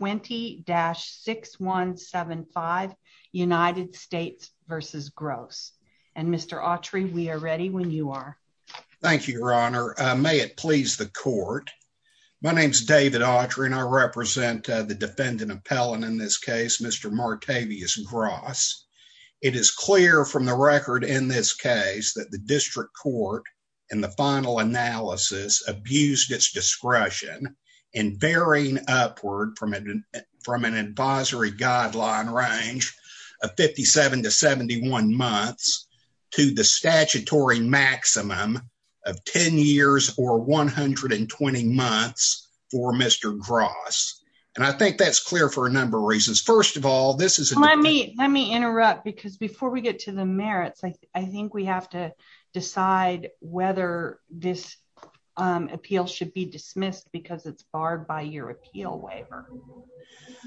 20-6175 United States v. Gross. And Mr. Autry, we are ready when you are. Thank you, your honor. May it please the court. My name is David Autry and I represent the defendant appellant in this case, Mr. Martavius Gross. It is clear from the record in this case that the district court in the final analysis abused its discretion in varying upward from an advisory guideline range of 57 to 71 months to the statutory maximum of 10 years or 120 months for Mr. Gross. And I think that's clear for a number of reasons. First of all, this is- Let me interrupt because before we get to the merits, I think we have to by your appeal waiver.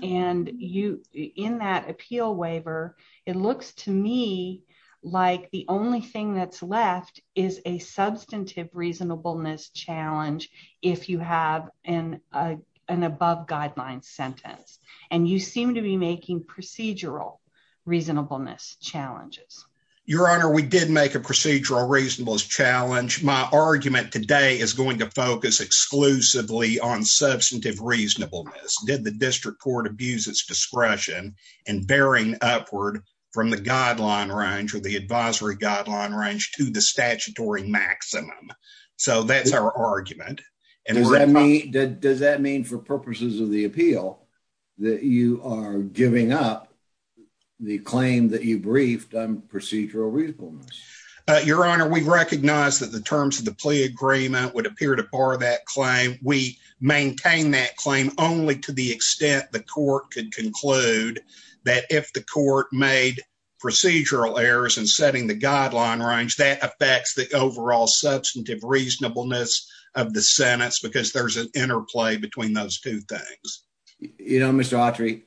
And in that appeal waiver, it looks to me like the only thing that's left is a substantive reasonableness challenge if you have an above guideline sentence. And you seem to be making procedural reasonableness challenges. Your honor, we did make a procedural reasonableness challenge. My argument today is going to focus exclusively on substantive reasonableness. Did the district court abuse its discretion in varying upward from the guideline range or the advisory guideline range to the statutory maximum? So that's our argument. Does that mean for purposes of the appeal that you are giving up the claim that you briefed on procedural reasonableness? Your honor, we recognize that the terms of the plea agreement would appear to bar that claim. We maintain that claim only to the extent the court could conclude that if the court made procedural errors in setting the guideline range, that affects the overall substantive reasonableness of the sentence because there's an interplay between those two things. You know, Mr. Autry,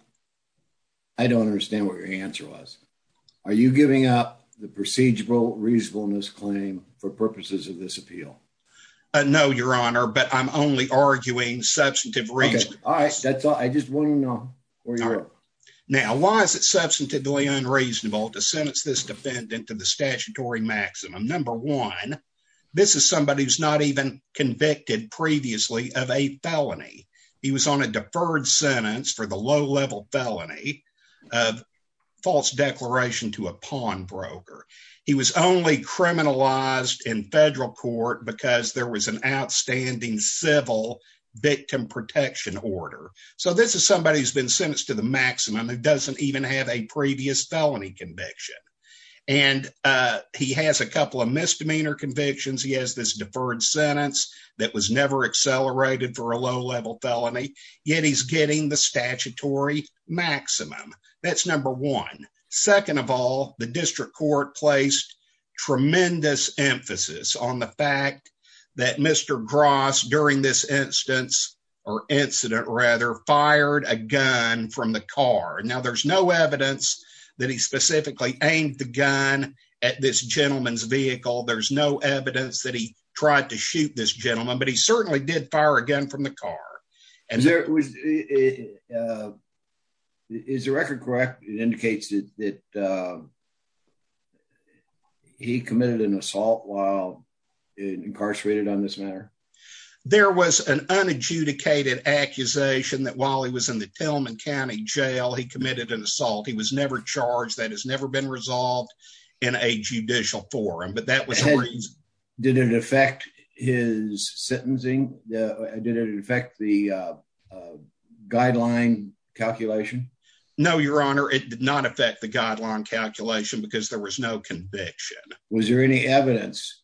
I don't understand what your answer was. Are you giving up the procedural reasonableness claim for purposes of this appeal? No, your honor, but I'm only arguing substantive reasonableness. All right, that's all. I just want to know where you're at. Now, why is it substantively unreasonable to sentence this defendant to the statutory maximum? Number one, this is somebody who's not even convicted previously of a felony. He was on a deferred sentence for the low-level felony of false declaration to a pawnbroker. He was only criminalized in federal court because there was an outstanding civil victim protection order. So this is somebody who's been sentenced to the maximum and doesn't even have a previous felony conviction. And he has a couple of misdemeanor convictions. He has this deferred sentence that was never accelerated for a low-level felony, yet he's getting the statutory maximum. That's number one. Second of all, the district court placed tremendous emphasis on the fact that Mr. Gross, during this incident, fired a gun from the car. Now, there's no evidence that he specifically aimed the gun at this gentleman's vehicle. There's no evidence that he tried to shoot this gentleman, but he certainly did fire a gun from the car. Is the record correct? It indicates that he committed an assault while incarcerated on this matter? There was an unadjudicated accusation that while he was in the Tillman County jail, he committed an assault. He was never charged. That has never been resolved in a judicial forum. Did it affect his sentencing? Did it affect the guideline calculation? No, Your Honor. It did not affect the guideline calculation because there was no conviction. Was there any evidence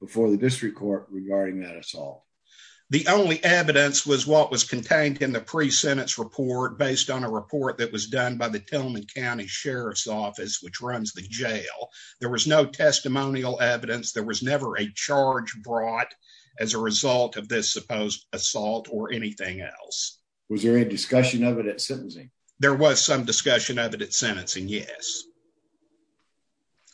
before the district court regarding that assault? The only evidence was what was contained in the pre-sentence report based on a report that was the jail. There was no testimonial evidence. There was never a charge brought as a result of this supposed assault or anything else. Was there any discussion of it at sentencing? There was some discussion of it at sentencing, yes.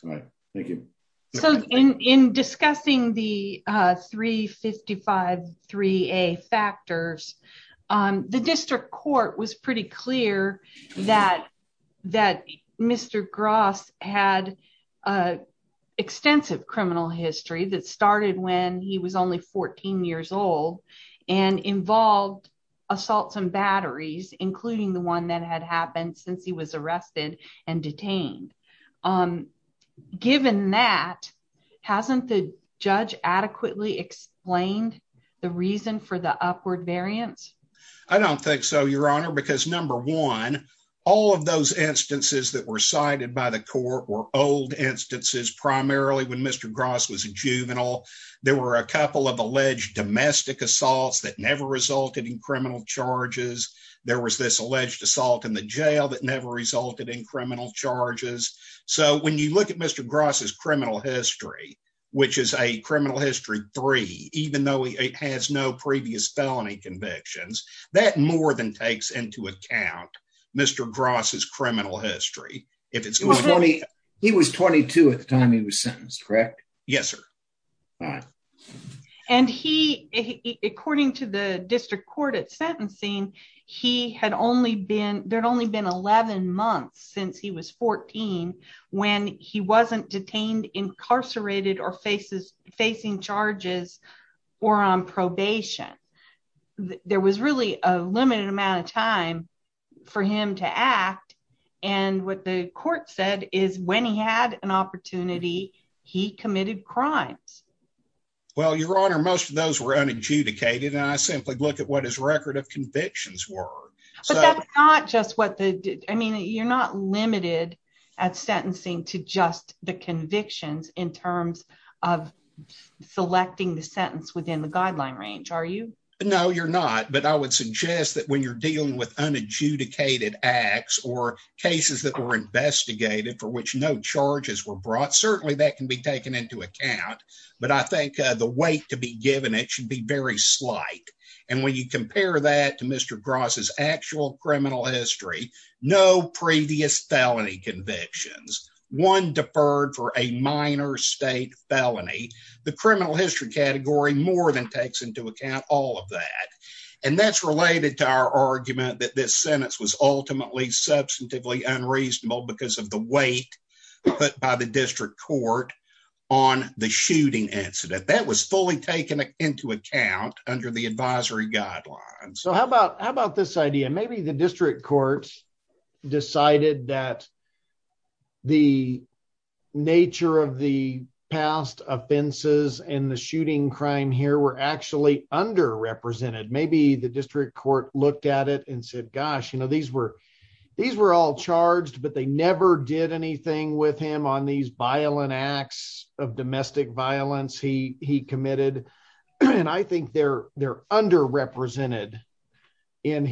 All right. Thank you. So, in discussing the 355-3A factors, the district court was pretty clear that Mr. Gross had an extensive criminal history that started when he was only 14 years old and involved assaults and batteries, including the one that had happened since he was arrested and detained. Given that, hasn't the judge adequately explained the reason for the upward variance? I don't think so, Your Honor, because number one, all of those instances that were cited by the court were old instances, primarily when Mr. Gross was a juvenile. There were a couple of alleged domestic assaults that never resulted in criminal charges. There was this alleged assault in the jail that never resulted in criminal charges. So, when you look at Mr. Gross's convictions, that more than takes into account Mr. Gross's criminal history. He was 22 at the time he was sentenced, correct? Yes, sir. And he, according to the district court at sentencing, there had only been 11 months since he was 14 when he wasn't detained, incarcerated, or facing charges or on probation. There was really a limited amount of time for him to act, and what the court said is when he had an opportunity, he committed crimes. Well, Your Honor, most of those were unadjudicated, and I simply looked at what his record of convictions were. But that's not just what the, I mean, you're not limited at sentencing to just the convictions in terms of selecting the sentence within the guideline range, are you? No, you're not. But I would suggest that when you're dealing with unadjudicated acts or cases that were investigated for which no charges were brought, certainly that can be taken into account. But I think the weight to be given, it should be very slight. And when you compare that to Mr. Brown's criminal history, no previous felony convictions, one deferred for a minor state felony, the criminal history category more than takes into account all of that. And that's related to our argument that this sentence was ultimately substantively unreasonable because of the weight put by the district court on the shooting incident. That was fully taken into account under the advisory guidelines. So how about this idea? Maybe the district court decided that the nature of the past offenses and the shooting crime here were actually underrepresented. Maybe the district court looked at it and said, gosh, you know, these were all charged, but they never did anything with him on these violent acts of domestic violence he underrepresented in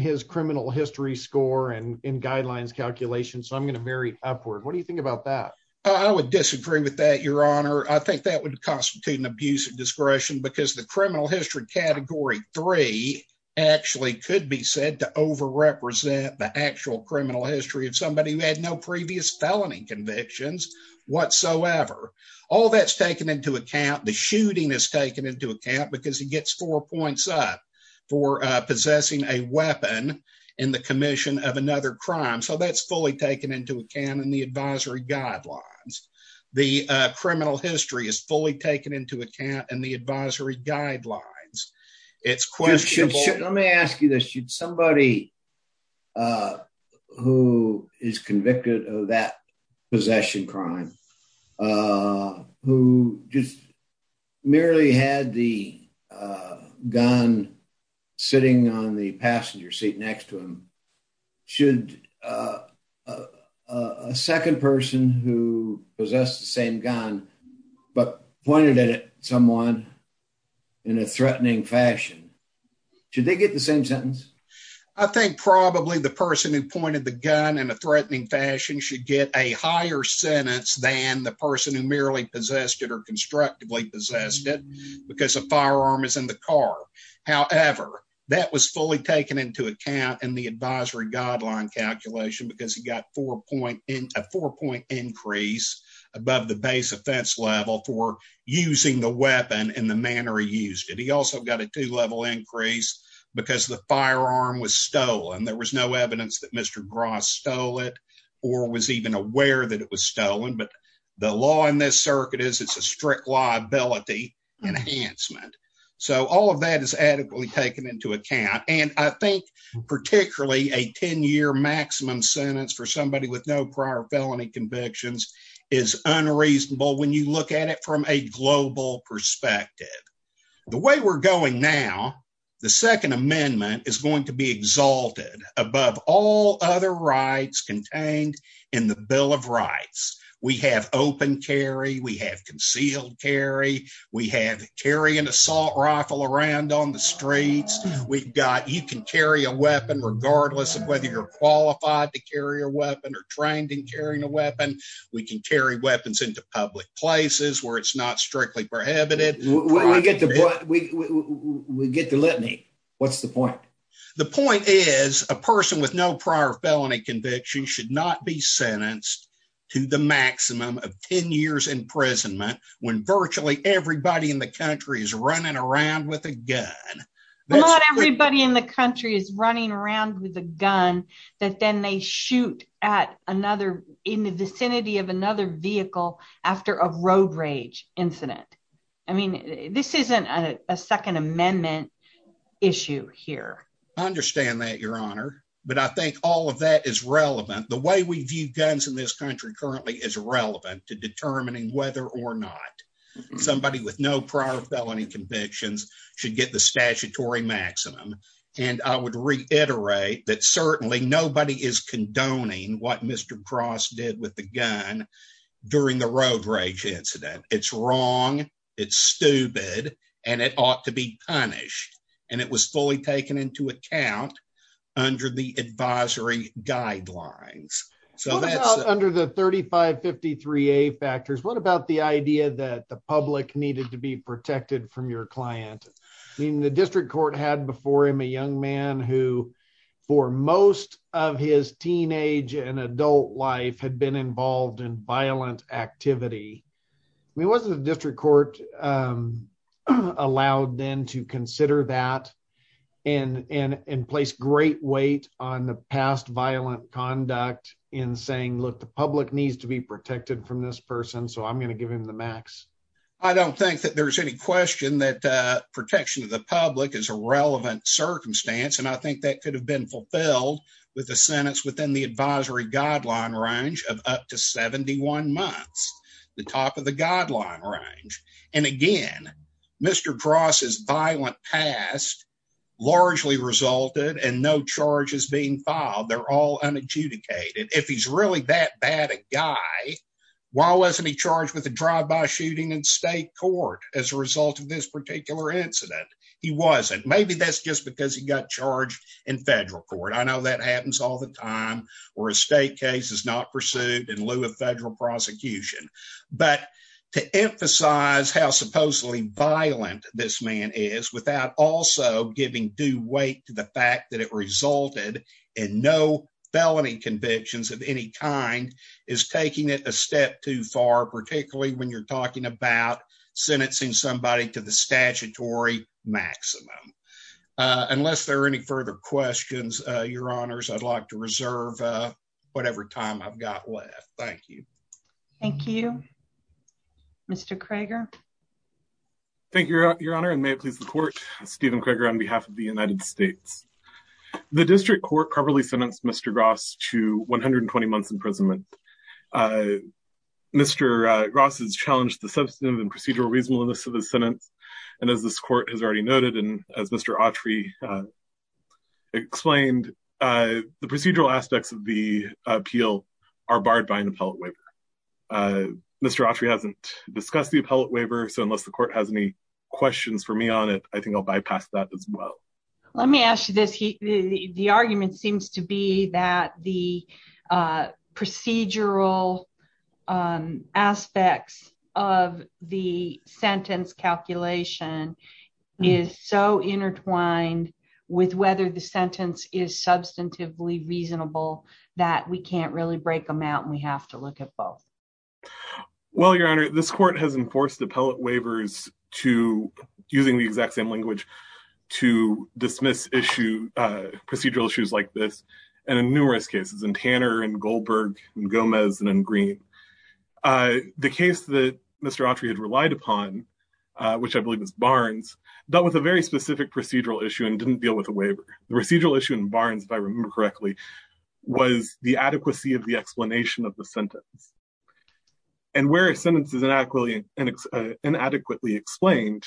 his criminal history score and in guidelines calculations. So I'm going to vary upward. What do you think about that? I would disagree with that, your honor. I think that would constitute an abuse of discretion because the criminal history category three actually could be said to overrepresent the actual criminal history of somebody who had no previous felony convictions whatsoever. All that's taken into account. The shooting is taken into account because he gets four points up for possessing a weapon in the commission of another crime. So that's fully taken into account in the advisory guidelines. The criminal history is fully taken into account in the advisory guidelines. It's questionable. Let me ask you somebody who is convicted of that possession crime who just merely had the gun sitting on the passenger seat next to him. Should a second person who possessed the same gun but pointed at someone in a threatening fashion, should they get the same sentence? I think probably the person who pointed the gun in a threatening fashion should get a higher sentence than the person who merely possessed it or constructively possessed it because the firearm is in the car. However, that was fully taken into account in the advisory guideline calculation because he got a four-point increase above the base offense level for using the weapon in the manner he used it. He also got a two-level increase because the firearm was stolen. There was no evidence that Mr. Gross stole it or was even aware that it was stolen, but the law in this circuit is it's a strict liability enhancement. So all of that is adequately taken into account. I think particularly a 10-year maximum sentence for somebody with no prior felony convictions is unreasonable when you look at it from a global perspective. The way we're going now, the second amendment is going to be exalted above all other rights contained in the Bill of Rights. We have open carry. We have concealed carry. We have carry an assault rifle around on the streets. You can carry a weapon regardless of whether you're qualified to carry a weapon or trained in carrying a weapon. We can carry weapons into public places where it's not strictly prohibited. We get the litany. What's the point? The point is a person with no prior felony conviction should not be sentenced to the maximum of 10 years imprisonment when virtually everybody in the country is running around with a gun. Not everybody in the country is running around with a gun that then they shoot at another in the vicinity of another vehicle after a road rage incident. I mean this isn't a second amendment issue here. I understand that your honor, but I think all of that is relevant. The way we view guns in this country currently is relevant to no prior felony convictions should get the statutory maximum. I would reiterate that certainly nobody is condoning what Mr. Cross did with the gun during the road rage incident. It's wrong. It's stupid. It ought to be punished. It was fully taken into account under the advisory protected from your client. I mean the district court had before him a young man who for most of his teenage and adult life had been involved in violent activity. I mean wasn't the district court allowed then to consider that and place great weight on the past violent conduct in saying look the public needs to be protected from this person so I'm going to give him the max. I don't think that there's any question that protection of the public is a relevant circumstance and I think that could have been fulfilled with the sentence within the advisory guideline range of up to 71 months. The top of the guideline range and again Mr. Cross's violent past largely resulted and no charges being filed. They're all unadjudicated. If he's really that guy why wasn't he charged with a drive-by shooting in state court as a result of this particular incident? He wasn't. Maybe that's just because he got charged in federal court. I know that happens all the time where a state case is not pursued in lieu of federal prosecution but to emphasize how supposedly violent this man is without also giving due weight to the fact that resulted in no felony convictions of any kind is taking it a step too far particularly when you're talking about sentencing somebody to the statutory maximum. Unless there are any further questions your honors I'd like to reserve whatever time I've got left. Thank you. Thank you. Mr. Krager. Thank you your honor and may it please the court. Stephen Krager on behalf of the United States. The district court properly sentenced Mr. Gross to 120 months imprisonment. Mr. Gross has challenged the substantive and procedural reasonableness of the sentence and as this court has already noted and as Mr. Autry explained the procedural aspects of the appeal are barred by an appellate waiver. Mr. Autry hasn't discussed the appellate waiver so unless the court has any questions for me on it I think I'll bypass that as well. Let me ask you this the argument seems to be that the procedural aspects of the sentence calculation is so intertwined with whether the sentence is substantively reasonable that we can't really break them out and we have to look at both. Well your honor this court has enforced appellate waivers to using the exact same language to dismiss issue procedural issues like this and in numerous cases in Tanner and Goldberg and Gomez and in Green. The case that Mr. Autry had relied upon which I believe is Barnes dealt with a very specific procedural issue and didn't deal with a waiver. The procedural issue in Barnes if I the sentence and where a sentence is inadequately explained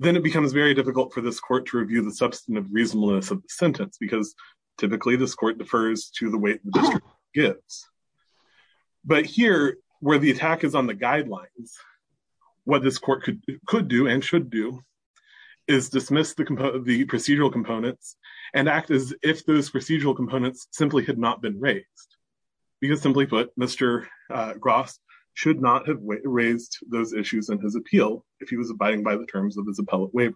then it becomes very difficult for this court to review the substantive reasonableness of the sentence because typically this court defers to the weight the district gives. But here where the attack is on the guidelines what this court could do and should do is dismiss the procedural components and act as if those because simply put Mr. Gross should not have raised those issues in his appeal if he was abiding by the terms of his appellate waiver.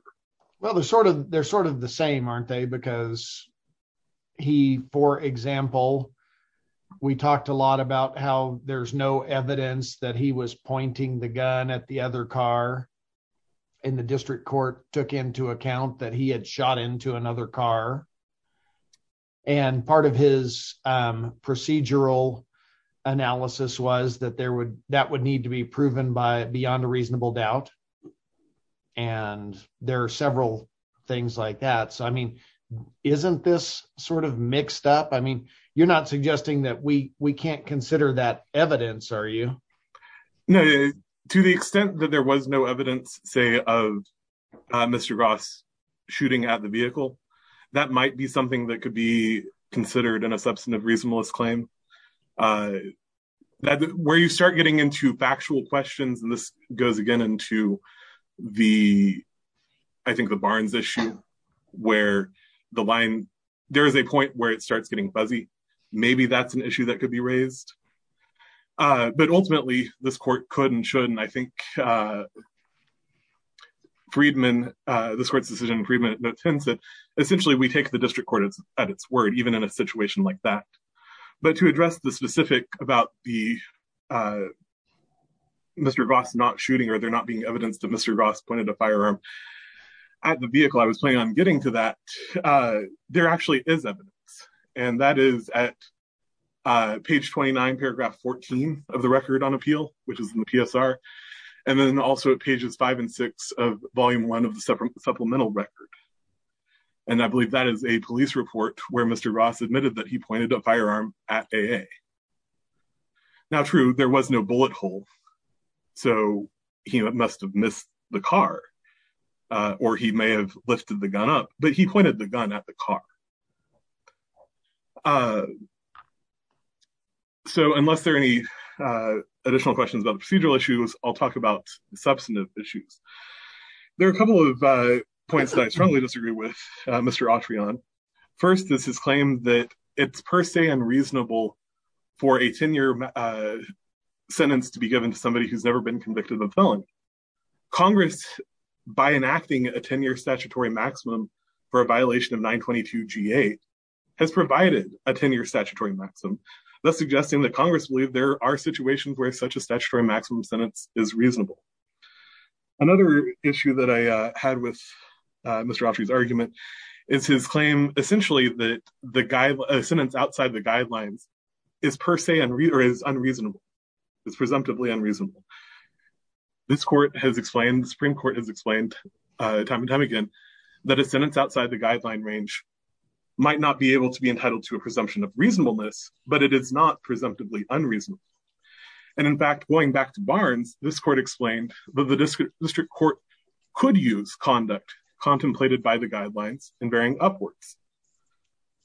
Well they're sort of they're sort of the same aren't they because he for example we talked a lot about how there's no evidence that he was pointing the gun at the other car and the district court took into account that he had shot into another car and part of his procedural analysis was that there would that would need to be proven by beyond a reasonable doubt. And there are several things like that so I mean isn't this sort of mixed up? I mean you're not suggesting that we we can't consider that evidence are you? No to the extent that there was no evidence say of Mr. Gross shooting at the vehicle that might be something that could be considered in a substantive reasonableness claim. That where you start getting into factual questions and this goes again into the I think the Barnes issue where the line there is a point where it starts getting fuzzy maybe that's an issue that this court could and should and I think Friedman this court's decision Friedman attends it essentially we take the district court at its word even in a situation like that. But to address the specific about the Mr. Gross not shooting or there not being evidence that Mr. Gross pointed a firearm at the vehicle I was planning on getting to that there actually is and that is at page 29 paragraph 14 of the record on appeal which is in the PSR and then also at pages 5 and 6 of volume 1 of the supplemental record and I believe that is a police report where Mr. Gross admitted that he pointed a firearm at AA. Now true there was no bullet hole so he must have missed the car or he may have lifted the gun up but he pointed the gun at the car. So unless there are any additional questions about the procedural issues I'll talk about the substantive issues. There are a couple of points that I strongly disagree with Mr. Atreon. First this is claimed that it's per se unreasonable for a 10-year sentence to be given to somebody who's never been convicted of a felony. Congress by enacting a 10-year statutory maximum for a 22-g-8 has provided a 10-year statutory maximum thus suggesting that Congress believe there are situations where such a statutory maximum sentence is reasonable. Another issue that I had with Mr. Atre's argument is his claim essentially that the guy a sentence outside the guidelines is per se unreasonable. It's presumptively unreasonable. This court has explained the Supreme Court has explained time and time again that a sentence outside the guideline range might not be able to be entitled to a presumption of reasonableness but it is not presumptively unreasonable and in fact going back to Barnes this court explained that the district court could use conduct contemplated by the guidelines and varying upwards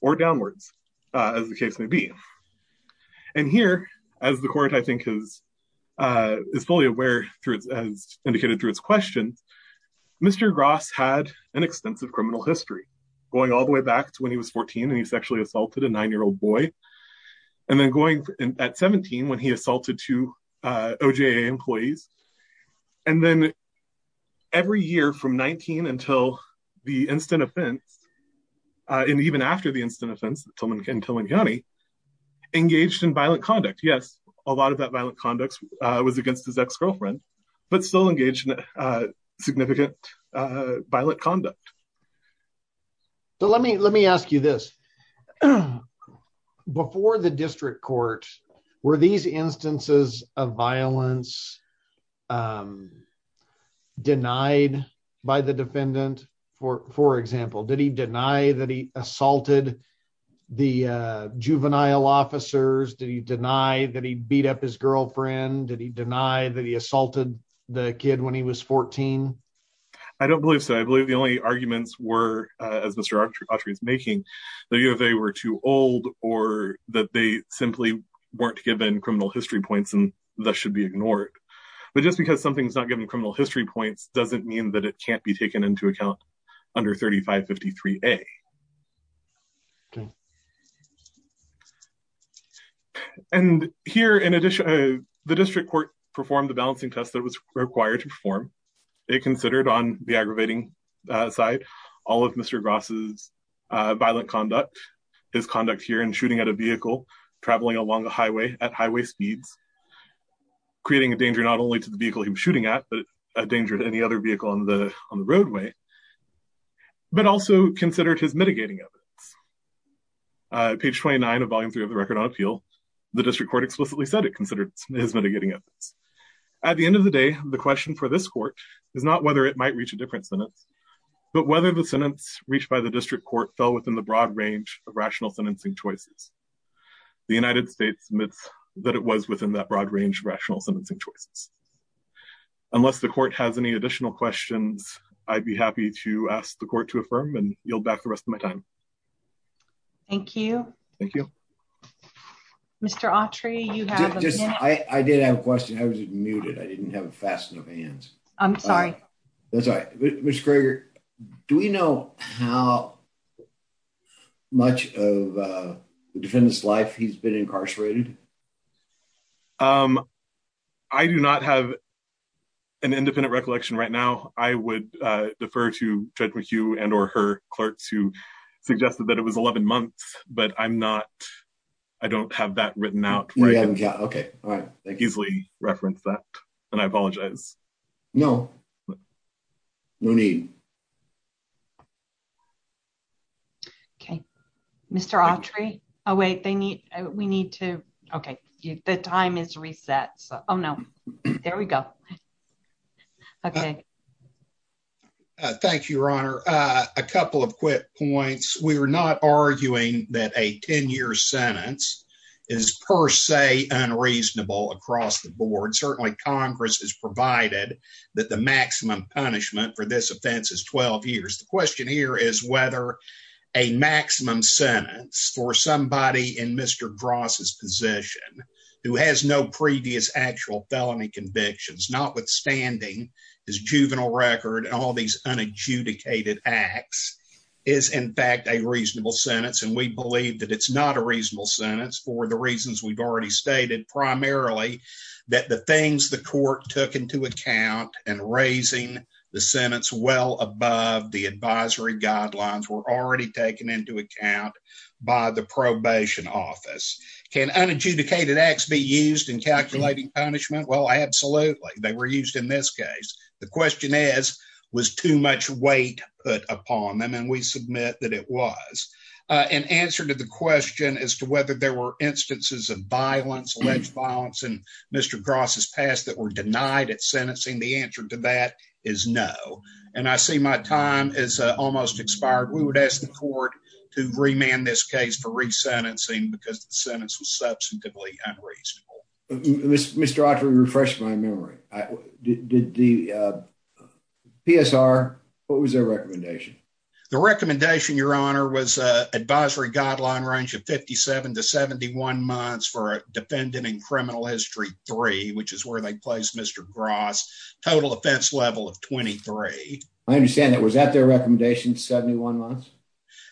or downwards as the case may be. And here as the court I think is fully aware through as indicated through its questions Mr. Gross had an extensive criminal history going all the way back to when he was 14 and he sexually assaulted a nine-year-old boy and then going at 17 when he assaulted two OJA employees and then every year from 19 until the instant offense and even after the instant offense in Tillman County engaged in violent conduct was against his ex-girlfriend but still engaged in significant violent conduct. So let me let me ask you this before the district court were these instances of violence denied by the defendant for for example did he deny that he assaulted the juvenile officers did he deny that he beat up his girlfriend did he deny that he assaulted the kid when he was 14? I don't believe so I believe the only arguments were as Mr. Autry is making the U of A were too old or that they simply weren't given criminal history points and that should be ignored but just because something's not given criminal history points doesn't mean that it can't be and here in addition the district court performed the balancing test that was required to perform it considered on the aggravating side all of Mr. Gross's violent conduct his conduct here in shooting at a vehicle traveling along the highway at highway speeds creating a danger not only to the vehicle he was shooting at but a danger to any other vehicle on the on the roadway but also considered his mitigating evidence page 29 of volume 3 of record on appeal the district court explicitly said it considered his mitigating evidence at the end of the day the question for this court is not whether it might reach a different sentence but whether the sentence reached by the district court fell within the broad range of rational sentencing choices the United States admits that it was within that broad range of rational sentencing choices unless the court has any additional questions I'd be happy to ask the Mr. Autry you have just I did have a question I was muted I didn't have a fast enough hands I'm sorry that's right Mr. Kroger do we know how much of the defendant's life he's been incarcerated um I do not have an independent recollection right now I would uh defer to Judge McHugh and or her suggested that it was 11 months but I'm not I don't have that written out yeah okay all right thank you easily reference that and I apologize no no need okay Mr. Autry oh wait they need we need to okay the time is reset so oh no there we go okay thank you your honor a couple of quick points we are not arguing that a 10-year sentence is per se unreasonable across the board certainly Congress has provided that the maximum punishment for this offense is 12 years the question here is whether a maximum sentence for somebody in Mr. Dross's position who has no previous actual felony convictions notwithstanding his juvenile record and all these unadjudicated acts is in fact a reasonable sentence and we believe that it's not a reasonable sentence for the reasons we've already stated primarily that the things the court took into account and raising the sentence well above the advisory guidelines were already taken into account by the probation office can unadjudicated acts be used in calculating punishment well absolutely they were used in this case the question is was too much weight put upon them and we submit that it was an answer to the question as to whether there were instances of violence alleged violence and Mr. Dross's past that were denied at sentencing the answer to that is no and I see my time is almost expired we would ask the court to remand this case for resentencing because the sentence was substantively unreasonable Mr. Autry refreshed my memory I did the PSR what was their recommendation the recommendation your honor was a advisory guideline range of 57 to 71 months for a defendant in criminal history three which is where they placed Mr. Gross total offense level of 23 I understand that was that their recommendation 71 months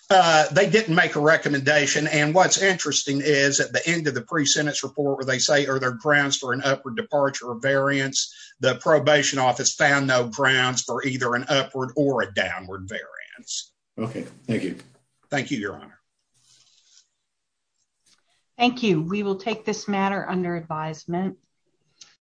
they didn't make a recommendation and what's interesting is at the end of the pre-sentence report where they say are there grounds for an upward departure of variance the probation office found no grounds for either an upward or a downward variance okay thank you thank you your honor thank you we will take this matter under advisement